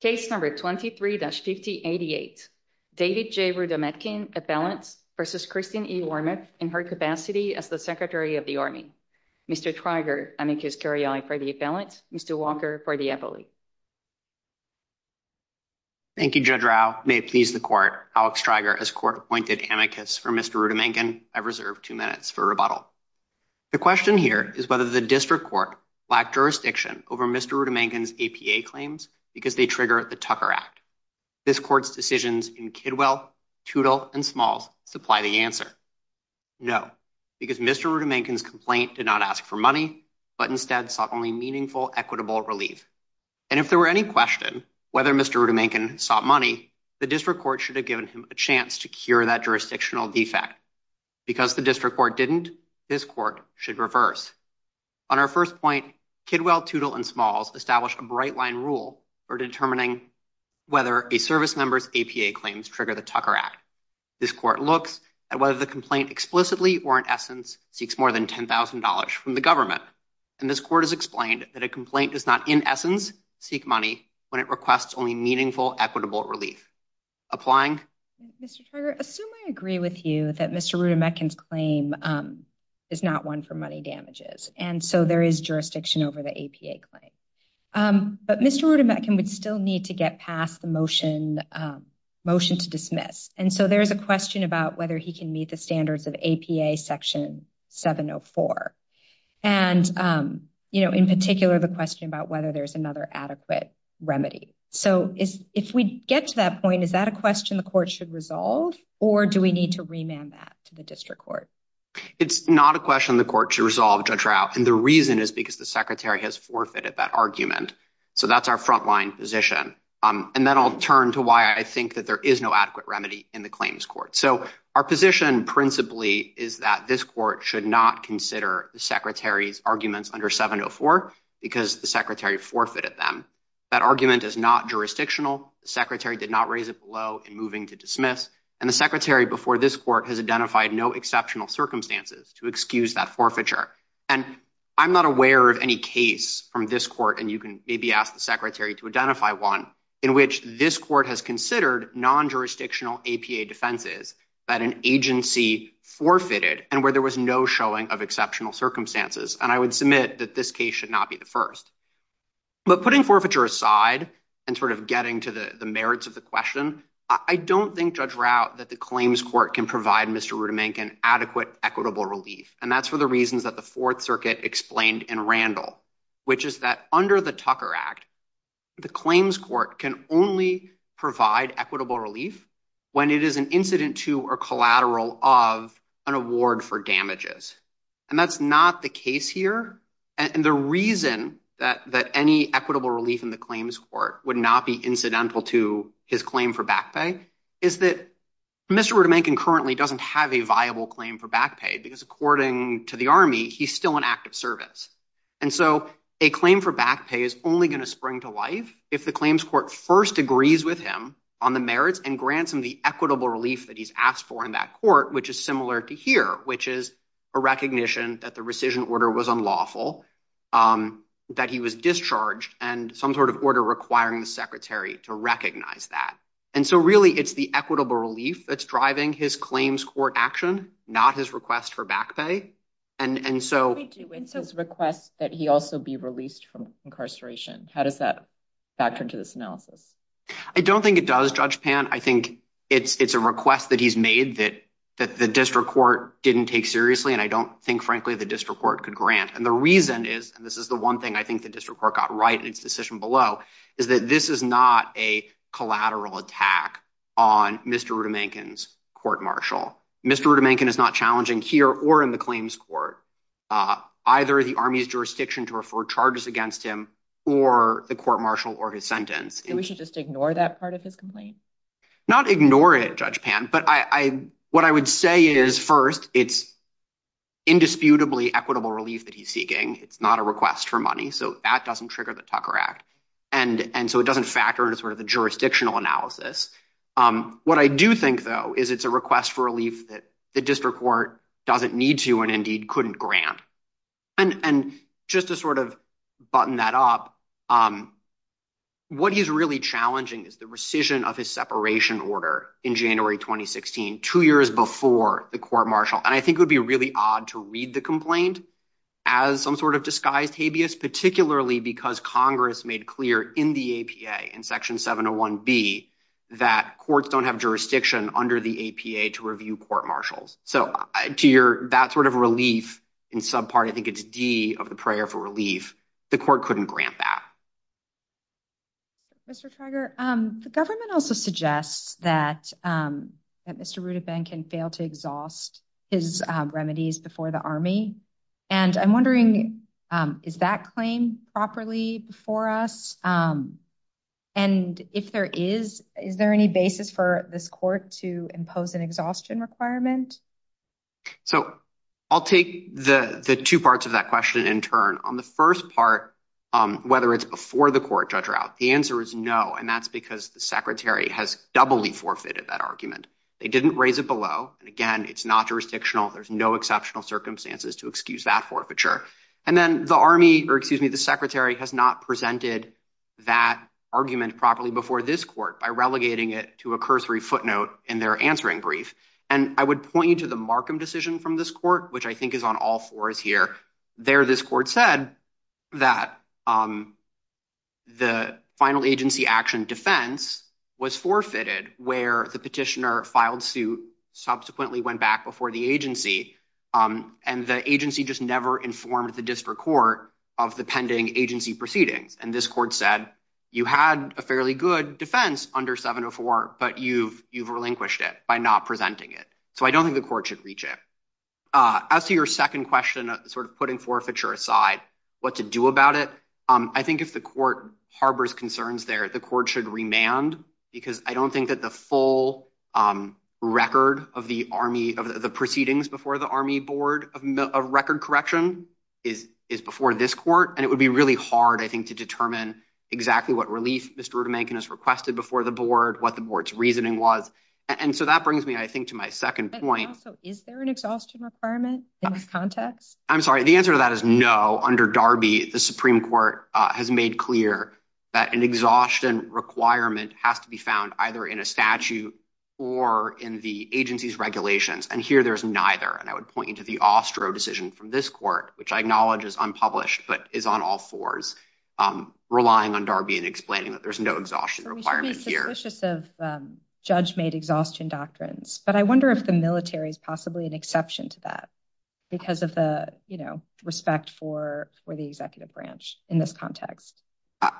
Case number 23-5088 David J. Rudometkin, appellant versus Christine E. Wormuth in her capacity as the Secretary of the Army. Mr. Treiger, amicus curiae for the appellant. Mr. Walker for the appellate. Thank you, Judge Rao. May it please the court. Alex Treiger, as court appointed amicus for Mr. Rudometkin, I reserve two minutes for rebuttal. The question here is whether the district court lacked jurisdiction over Mr. Rudometkin's APA claims because they trigger the Tucker Act. This court's decisions in Kidwell, Toutle, and Smalls supply the answer. No, because Mr. Rudometkin's complaint did not ask for money, but instead sought only meaningful, equitable relief. And if there were any question whether Mr. Rudometkin sought money, the district court should have given him a chance to cure that jurisdictional defect. Because the district court didn't, this court should reverse. On our first point, Kidwell, Toutle, and Smalls established a bright line rule for determining whether a service member's APA claims trigger the Tucker Act. This court looks at whether the complaint explicitly or in essence seeks more than $10,000 from the government. And this court has explained that a complaint does not in essence seek money when it requests only meaningful, equitable relief. Applying? Mr. Treiger, assume I agree with you that Mr. Rudometkin's claim is not one for money damages. And so there is jurisdiction over the APA claim. But Mr. Rudometkin would still need to get past the motion to dismiss. And so there is a question about whether he can meet the standards of APA section 704. And in particular, the question about whether there's another adequate remedy. So if we get to that point, is that a question the court should resolve? Or do we need to remand that to the district court? It's not a question the court should resolve, Judge Rao. And the reason is because the secretary has forfeited that argument. So that's our frontline position. And then I'll turn to why I think that there is no adequate remedy in the claims court. So our position principally is that this court should not consider the secretary's arguments under 704 because the secretary forfeited them. That argument is not jurisdictional. The secretary did not raise it below in moving to dismiss. And the secretary before this court has identified no exceptional circumstances to excuse that forfeiture. And I'm not aware of any case from this court, and you can maybe ask the secretary to identify one, in which this court has considered non-jurisdictional APA defenses that an agency forfeited and where there was no showing of exceptional circumstances. And I would submit that this case should not be the first. But putting forfeiture aside and sort of getting to the merits of the question, I don't think, Judge Rao, that the claims court can provide Mr. Rudemankin adequate equitable relief. And that's for the reasons that the Fourth Circuit explained in Randall, which is that under the Tucker Act, the claims court can only provide equitable relief when it is an incident to or collateral of an award for damages. And that's not the case here. And the reason that any equitable relief in the claims court would not be incidental to his claim for back pay is that Mr. Rudemankin currently doesn't have a viable claim for back pay, because according to the Army, he's still in active service. And so a claim for back pay is only going to spring to life if the claims court first agrees with him on the merits and grants him the equitable relief that he's asked for in that court, which is similar to here, which is a recognition that the rescission order was unlawful, that he was discharged, and some sort of order requiring the secretary to recognize that. And so really, it's the equitable relief that's driving his claims court action, not his request for back pay. And so... What do we do with his request that he also be released from incarceration? How does that factor into this analysis? I don't think it does, Judge Pan. I think it's a request that he's made that the district court didn't take seriously, and I don't think, frankly, the district court could grant. And the reason is, and this is the one thing I think the district court got right in its decision below, is that this is not a collateral attack on Mr. Rudemankin's court-martial. Mr. Rudemankin is not challenging here or in the claims court, either the Army's jurisdiction to refer charges against him or the court-martial or his sentence. We should just ignore that part of his complaint? Not ignore it, Judge Pan. But what I would say is, first, it's indisputably equitable relief that he's seeking. It's not a request for money. So that doesn't trigger the Tucker Act. And so it doesn't factor into sort of the jurisdictional analysis. What I do think, though, is it's a request for relief that the district court doesn't need to and indeed couldn't grant. And just to sort of button that up, what is really challenging is the rescission of his separation order in January 2016, two years before the court-martial. And I think it would be really odd to read the complaint as some sort of disguised habeas, particularly because Congress made clear in the APA, in Section 701B, that courts don't have jurisdiction under the APA to review court-martials. So to your, that sort of relief in some part, I think it's D of the prayer for relief. The court couldn't grant that. Mr. Trager, the government also suggests that Mr. Rueda-Benken failed to exhaust his remedies before the Army. And I'm wondering, is that claim properly before us? And if there is, is there any basis for this court to impose an exhaustion requirement? So I'll take the two parts of that question in turn. On the first part, whether it's before the court, Judge Rout, the answer is no. And that's because the Secretary has doubly forfeited that argument. They didn't raise it below. And again, it's not jurisdictional. There's no exceptional circumstances to excuse that forfeiture. And then the Army, or excuse me, the Secretary has not presented that argument properly before this court by relegating it to a cursory footnote in their answering brief. And I would point you to the Markham decision from this court, which I think is on all fours here. There, this court said that the final agency action defense was forfeited where the petitioner filed suit, subsequently went back before the agency. And the agency just never informed the district court of the pending agency proceedings. And this court said, you had a fairly good defense under 704, but you've relinquished it by not presenting it. So I don't think the court should reach it. As to your second question, sort of putting forfeiture aside, what to do about it? I think if the court harbors concerns there, the court should remand because I don't think that the full record of the Army, of the proceedings before the Army Board of Record Correction is before this court. And it would be really hard, I think, to determine exactly what relief Mr. Rudemankin has requested before the board, what the board's reasoning was. And so that brings me, I think, to my second point. Also, is there an exhaustion requirement in this context? I'm sorry, the answer to that is no. Under Darby, the Supreme Court has made clear that an exhaustion requirement has to be found either in a statute or in the agency's regulations. And here, there's neither. And I would point you to the Austro decision from this court, which I acknowledge is unpublished, but is on all fours, relying on Darby and explaining that there's no exhaustion requirement here. So we should be suspicious of judge-made exhaustion doctrines. But I wonder if the military is possibly an exception to that because of the respect for the executive branch in this context.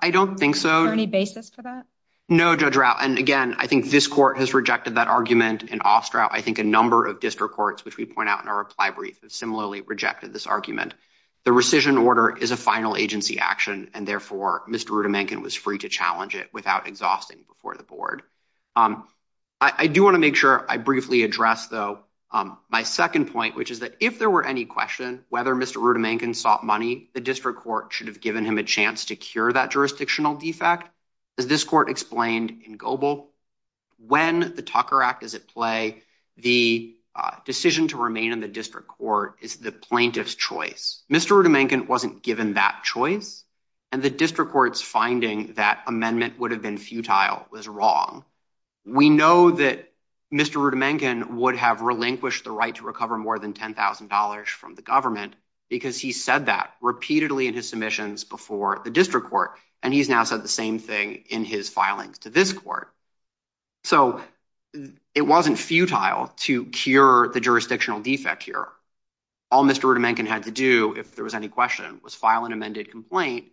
I don't think so. Is there any basis for that? No, Judge Routt. And again, I think this court has rejected that argument in Austraut. I think a number of district courts, which we point out in our reply brief, have similarly rejected this argument. The rescission order is a final agency action, and therefore, Mr. Rudemankin was free to challenge it without exhausting before the board. I do want to make sure I briefly address, though, my second point, which is that if there were any question whether Mr. Rudemankin sought money, the district court should have given him a chance to cure that jurisdictional defect. As this court explained in Goebel, when the Tucker Act is at play, the decision to remain in the district court is the plaintiff's choice. Mr. Rudemankin wasn't given that choice, and the district court's finding that amendment would have been futile was wrong. We know that Mr. Rudemankin would have relinquished the right to recover more than $10,000 from the government because he said that repeatedly in his submissions before the district court, and he's now said the same thing in his filings to this court. So it wasn't futile to cure the jurisdictional defect here. All Mr. Rudemankin had to do, if there was any question, was file an amended complaint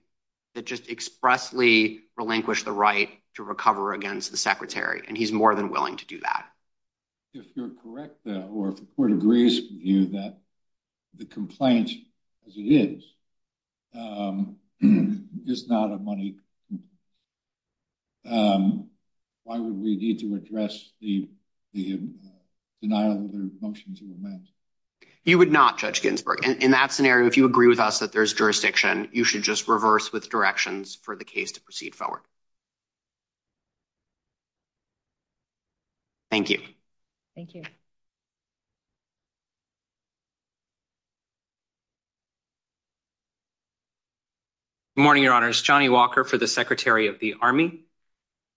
that just expressly relinquished the right to recover against the secretary, and he's more than willing to do that. If you're correct, though, or if the complaint, as it is, is not a money complaint, why would we need to address the denial of the motion to amend? You would not, Judge Ginsburg. In that scenario, if you agree with us that there's jurisdiction, you should just reverse with directions for the case to proceed forward. Thank you. Thank you. Good morning, Your Honors. Johnny Walker for the Secretary of the Army.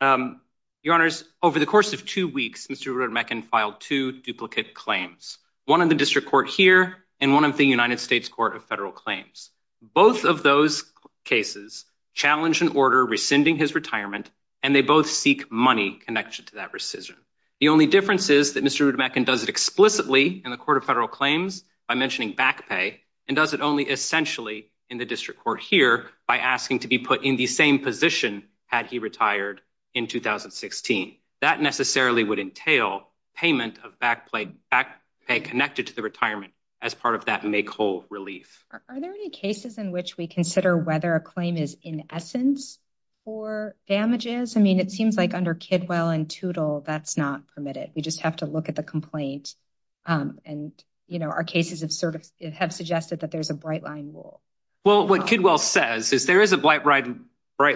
Your Honors, over the course of two weeks, Mr. Rudemankin filed two duplicate claims, one in the district court here and one of the United States Court of Federal Claims. Both of those cases challenge an order rescinding his retirement, and they both seek money connected to that rescission. The only difference is that Mr. Rudemankin does it explicitly in the Court of Federal Claims by mentioning back pay and does it only essentially in the district court here by asking to be put in the same position had he retired in 2016. That necessarily would entail payment of back pay connected to the retirement as part of that make whole relief. Are there any cases in which we consider whether a claim is in essence for damages? I mean, it seems like under Kidwell and Teutel, that's not permitted. We just have to look at the complaint and, you know, our cases have sort of have suggested that there's a bright line rule. Well, what Kidwell says is there is a bright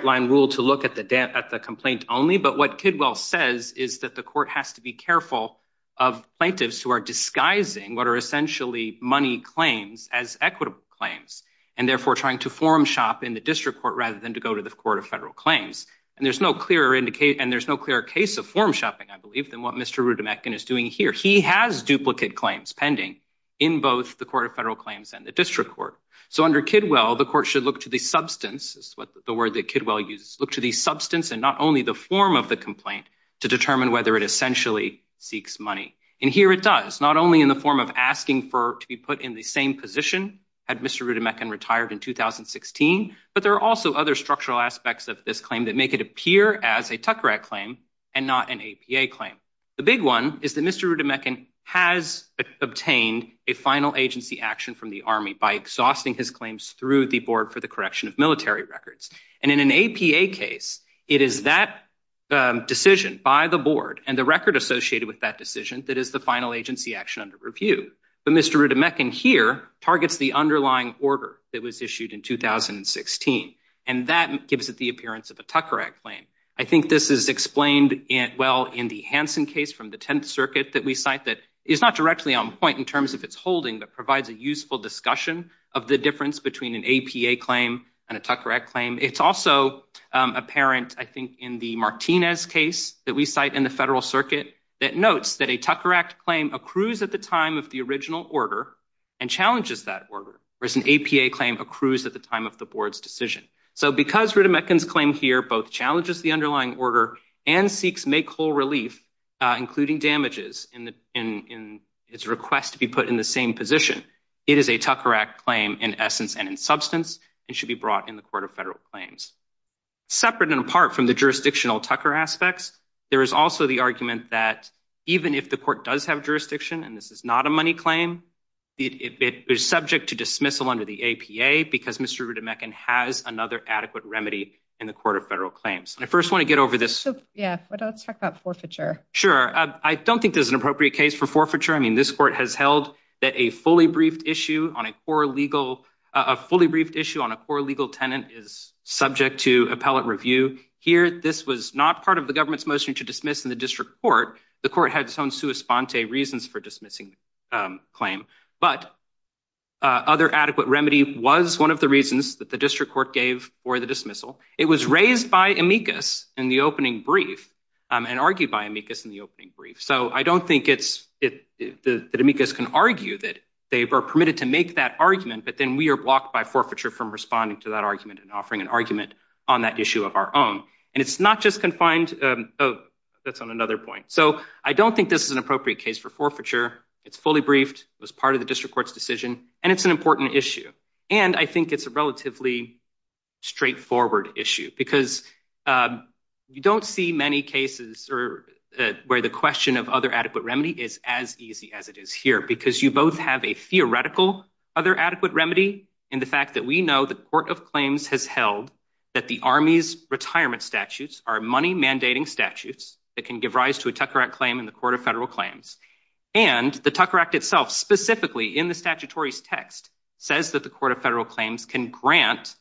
line rule to look at the complaint only, but what Kidwell says is that the court has to be careful of plaintiffs who are disguising what essentially money claims as equitable claims and therefore trying to form shop in the district court rather than to go to the Court of Federal Claims. And there's no clearer case of form shopping, I believe, than what Mr. Rudemankin is doing here. He has duplicate claims pending in both the Court of Federal Claims and the district court. So under Kidwell, the court should look to the substance, the word that Kidwell uses, look to the substance and not only the form of the complaint to determine whether it essentially seeks money. And here it does, not only in the form of asking to be put in the same position had Mr. Rudemankin retired in 2016, but there are also other structural aspects of this claim that make it appear as a Tucker Act claim and not an APA claim. The big one is that Mr. Rudemankin has obtained a final agency action from the Army by exhausting his claims through the Board for the Correction of Military Records. And in an APA case, it is that decision by the Board and the record associated with that decision that is the final agency action under review. But Mr. Rudemankin here targets the underlying order that was issued in 2016, and that gives it the appearance of a Tucker Act claim. I think this is explained well in the Hansen case from the Tenth Circuit that we cite that is not directly on point in terms of its holding, but provides a useful discussion of the difference between an APA claim and a Tucker Act claim. It's also apparent, I think, in the Martinez case that we cite in the Tucker Act claim accrues at the time of the original order and challenges that order, whereas an APA claim accrues at the time of the Board's decision. So because Rudemankin's claim here both challenges the underlying order and seeks make-whole relief, including damages in its request to be put in the same position, it is a Tucker Act claim in essence and in substance and should be brought in the Court of Federal Claims. Separate and apart from the jurisdictional Tucker aspects, there is also the argument that even if the Court does have jurisdiction and this is not a money claim, it is subject to dismissal under the APA because Mr. Rudemankin has another adequate remedy in the Court of Federal Claims. I first want to get over this... Yeah, let's talk about forfeiture. Sure. I don't think there's an appropriate case for forfeiture. I mean, this Court has held that a fully briefed issue on a core legal, a fully briefed issue on a core legal tenant is subject to appellate review. Here, this was not part of the government's motion to dismiss in court. The court had its own sua sponte reasons for dismissing the claim, but other adequate remedy was one of the reasons that the district court gave for the dismissal. It was raised by amicus in the opening brief and argued by amicus in the opening brief. So I don't think it's... that amicus can argue that they are permitted to make that argument, but then we are blocked by forfeiture from responding to that argument and offering an argument on that issue of our own. And it's not just confined... Oh, that's on another point. So I don't think this is an appropriate case for forfeiture. It's fully briefed. It was part of the district court's decision, and it's an important issue. And I think it's a relatively straightforward issue because you don't see many cases where the question of other adequate remedy is as easy as it is here, because you both have a theoretical other adequate remedy in the fact that we know the Court of Claims has held that the Army's retirement statutes are money-mandating statutes that can give rise to a Tucker Act claim in the Court of Federal Claims. And the Tucker Act itself specifically in the statutory text says that the Court of Federal Claims can grant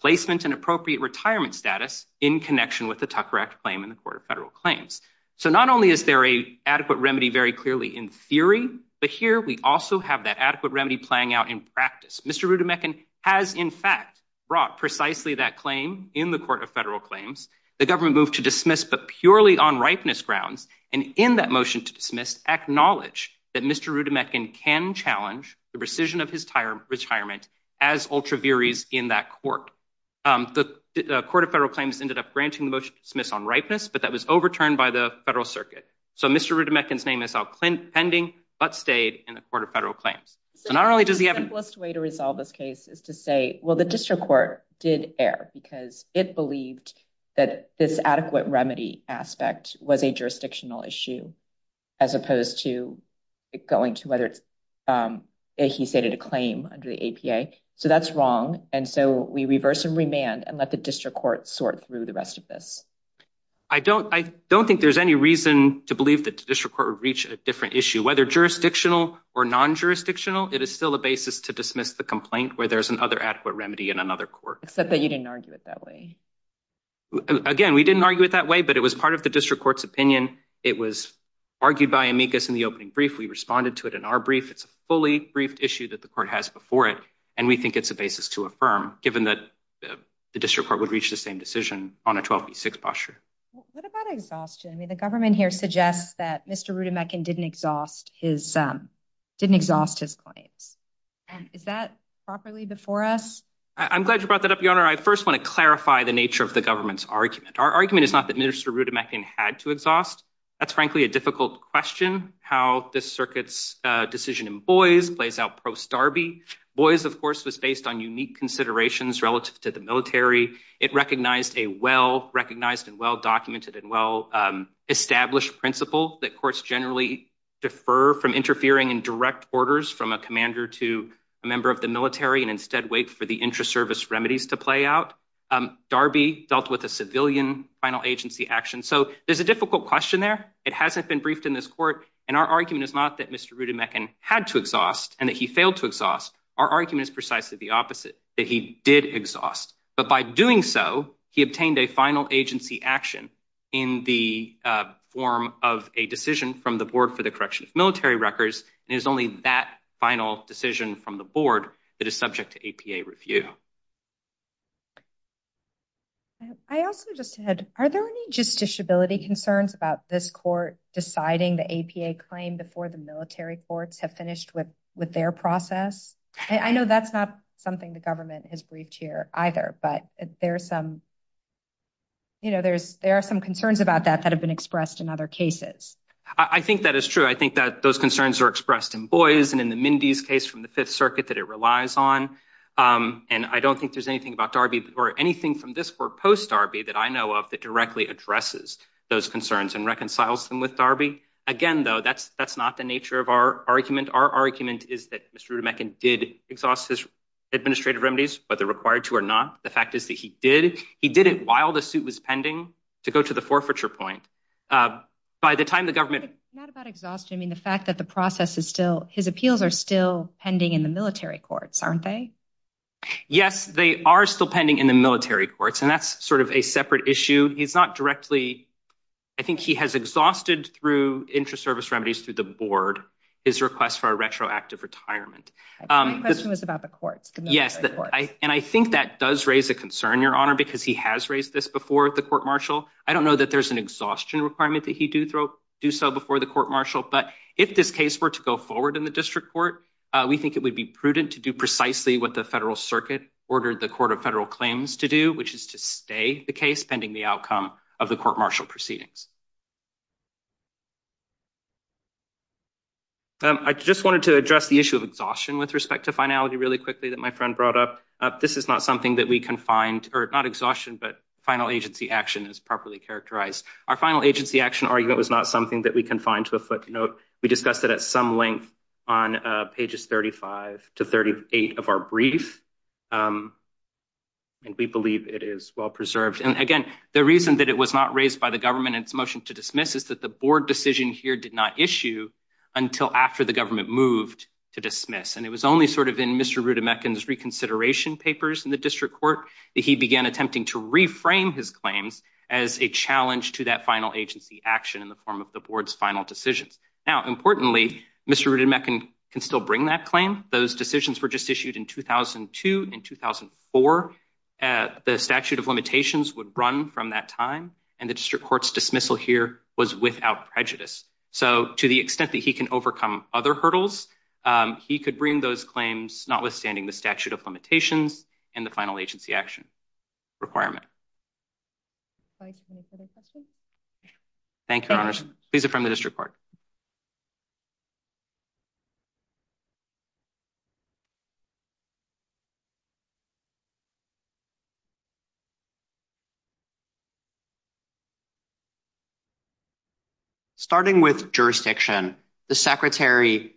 placement and appropriate retirement status in connection with the Tucker Act claim in the Court of Federal Claims. So not only is there a adequate remedy very clearly in theory, but here we also have adequate remedy playing out in practice. Mr. Rudamechan has in fact brought precisely that claim in the Court of Federal Claims. The government moved to dismiss, but purely on ripeness grounds. And in that motion to dismiss, acknowledged that Mr. Rudamechan can challenge the rescission of his retirement as ultra viris in that court. The Court of Federal Claims ended up granting the motion to dismiss on ripeness, but that was overturned by the Federal Circuit. So Mr. Rudamechan's name is out pending, but stayed in the Court of Federal Claims. So not only does he have... The simplest way to resolve this case is to say, well, the district court did err because it believed that this adequate remedy aspect was a jurisdictional issue as opposed to going to whether it's, he stated a claim under the APA. So that's wrong. And so we reverse and remand and let the district court sort through the rest of this. I don't, I don't think there's any reason to believe that the district court would reach a different issue, whether jurisdictional or non-jurisdictional. It is still a basis to dismiss the complaint where there's another adequate remedy in another court. Except that you didn't argue it that way. Again, we didn't argue it that way, but it was part of the district court's opinion. It was argued by amicus in the opening brief. We responded to it in our brief. It's a fully briefed issue that the court has before it. And we think it's a basis to affirm given that the district court would reach the same decision on a 12B6 posture. What about exhaustion? I mean, the government here suggests that Mr. Rudamechan didn't exhaust his, didn't exhaust his claims. Is that properly before us? I'm glad you brought that up, Your Honor. I first want to clarify the nature of the government's argument. Our argument is not that Mr. Rudamechan had to exhaust. That's frankly a difficult question. How this circuit's decision in Boies plays out post Darby. Boies, of course, was based on unique considerations relative to the military. It recognized a well-recognized and well-documented and well-established principle that courts generally defer from interfering in direct orders from a commander to a member of the military and instead wait for the intra-service remedies to play out. Darby dealt with a civilian final agency action. So there's a difficult question there. It hasn't been briefed in this court. And our argument is not that Mr. Rudamechan had to exhaust and that he failed to exhaust. Our argument is precisely the opposite, that he did exhaust. But by doing so, he obtained a final agency action in the form of a decision from the board for the correction of military records. And it was only that final decision from the board that is subject to APA review. I also just had, are there any justiciability concerns about this court deciding the APA claim before the military courts have finished with their process? I know that's not something the government has briefed here either, but there are some concerns about that that have been expressed in other cases. I think that is true. I think that those concerns are expressed in Boies and in the Mindy's case from the Fifth Circuit that it relies on. And I don't think there's anything about Darby or anything from this court post Darby that I know of that directly addresses those concerns and reconciles them with Darby. Again, though, that's not the nature of our argument. Our argument is that Mr. Rudamechan did exhaust his administrative remedies, whether required to or not. The fact is that he did. He did it while the suit was pending to go to the forfeiture point. By the time the government... Not about exhaustion. I mean, the fact that the process is still, his appeals are still pending in the military courts, aren't they? Yes, they are still pending in the military courts. And that's sort of a separate issue. He's not directly... I think he has exhausted through interest service remedies through the board his request for a retroactive retirement. My question was about the courts. Yes, and I think that does raise a concern, Your Honor, because he has raised this before the court-martial. I don't know that there's an exhaustion requirement that he do so before the court-martial, but if this case were to go forward in the district court, we think it would be prudent to do precisely what the federal circuit ordered the court of federal claims to do, which is to stay the case pending the outcome of the court-martial proceedings. I just wanted to address the issue of exhaustion with respect to finality really quickly that my friend brought up. This is not something that we can find... Or not exhaustion, but final agency action is properly characterized. Our final agency action argument was not something that we can find to a footnote. We discussed it at some length on pages 35 to 38 of our brief, and we believe it is well preserved. And again, the reason that it was not raised by the government in its motion to dismiss is that the board decision here did not issue until after the government moved to dismiss, and it was only sort of in Mr. Rudamechan's reconsideration papers in the district court that he began attempting to reframe his claims as a challenge to that final agency action in the form of the board's final decisions. Now, importantly, Mr. Rudamechan can still bring that claim. Those statute of limitations would run from that time, and the district court's dismissal here was without prejudice. So to the extent that he can overcome other hurdles, he could bring those claims, notwithstanding the statute of limitations and the final agency action requirement. Thanks. Any further questions? Thank you, Your Honors. Please affirm the district court. Starting with jurisdiction, the secretary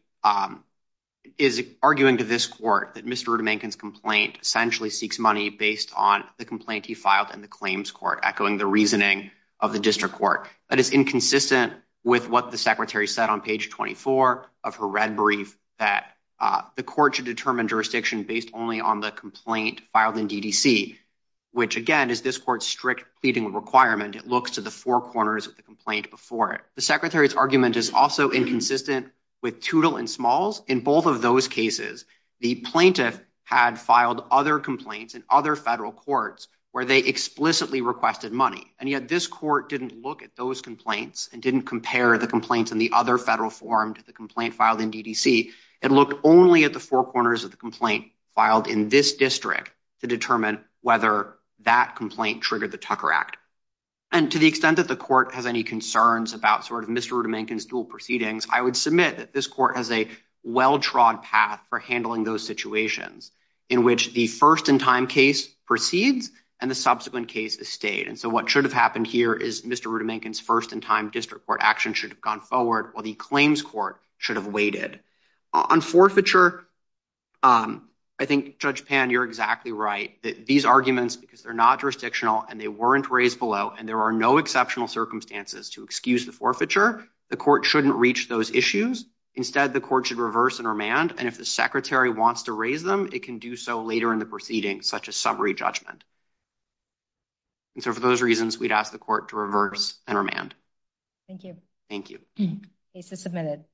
is arguing to this court that Mr. Rudamechan's based on the complaint he filed in the claims court, echoing the reasoning of the district court. That is inconsistent with what the secretary said on page 24 of her red brief, that the court should determine jurisdiction based only on the complaint filed in DDC, which, again, is this court's strict pleading requirement. It looks to the four corners of the complaint before it. The secretary's argument is also inconsistent with Toutle and Smalls. In both of those cases, the plaintiff had filed other complaints in other federal courts where they explicitly requested money, and yet this court didn't look at those complaints and didn't compare the complaints in the other federal form to the complaint filed in DDC. It looked only at the four corners of the complaint filed in this district to determine whether that complaint triggered the Tucker Act. And to the extent that the court has any concerns about Mr. Rudamechan's proceedings, I would submit that this court has a well-trod path for handling those situations in which the first-in-time case proceeds and the subsequent case is stayed. And so what should have happened here is Mr. Rudamechan's first-in-time district court action should have gone forward while the claims court should have waited. On forfeiture, I think Judge Pan, you're exactly right. These arguments, because they're not jurisdictional and they weren't raised below and there are no exceptional circumstances to excuse the forfeiture, the court shouldn't reach those issues. Instead, the court should reverse and remand, and if the secretary wants to raise them, it can do so later in the proceeding, such as summary judgment. And so for those reasons, we'd ask the court to reverse and remand. Thank you. Thank you. Case is submitted.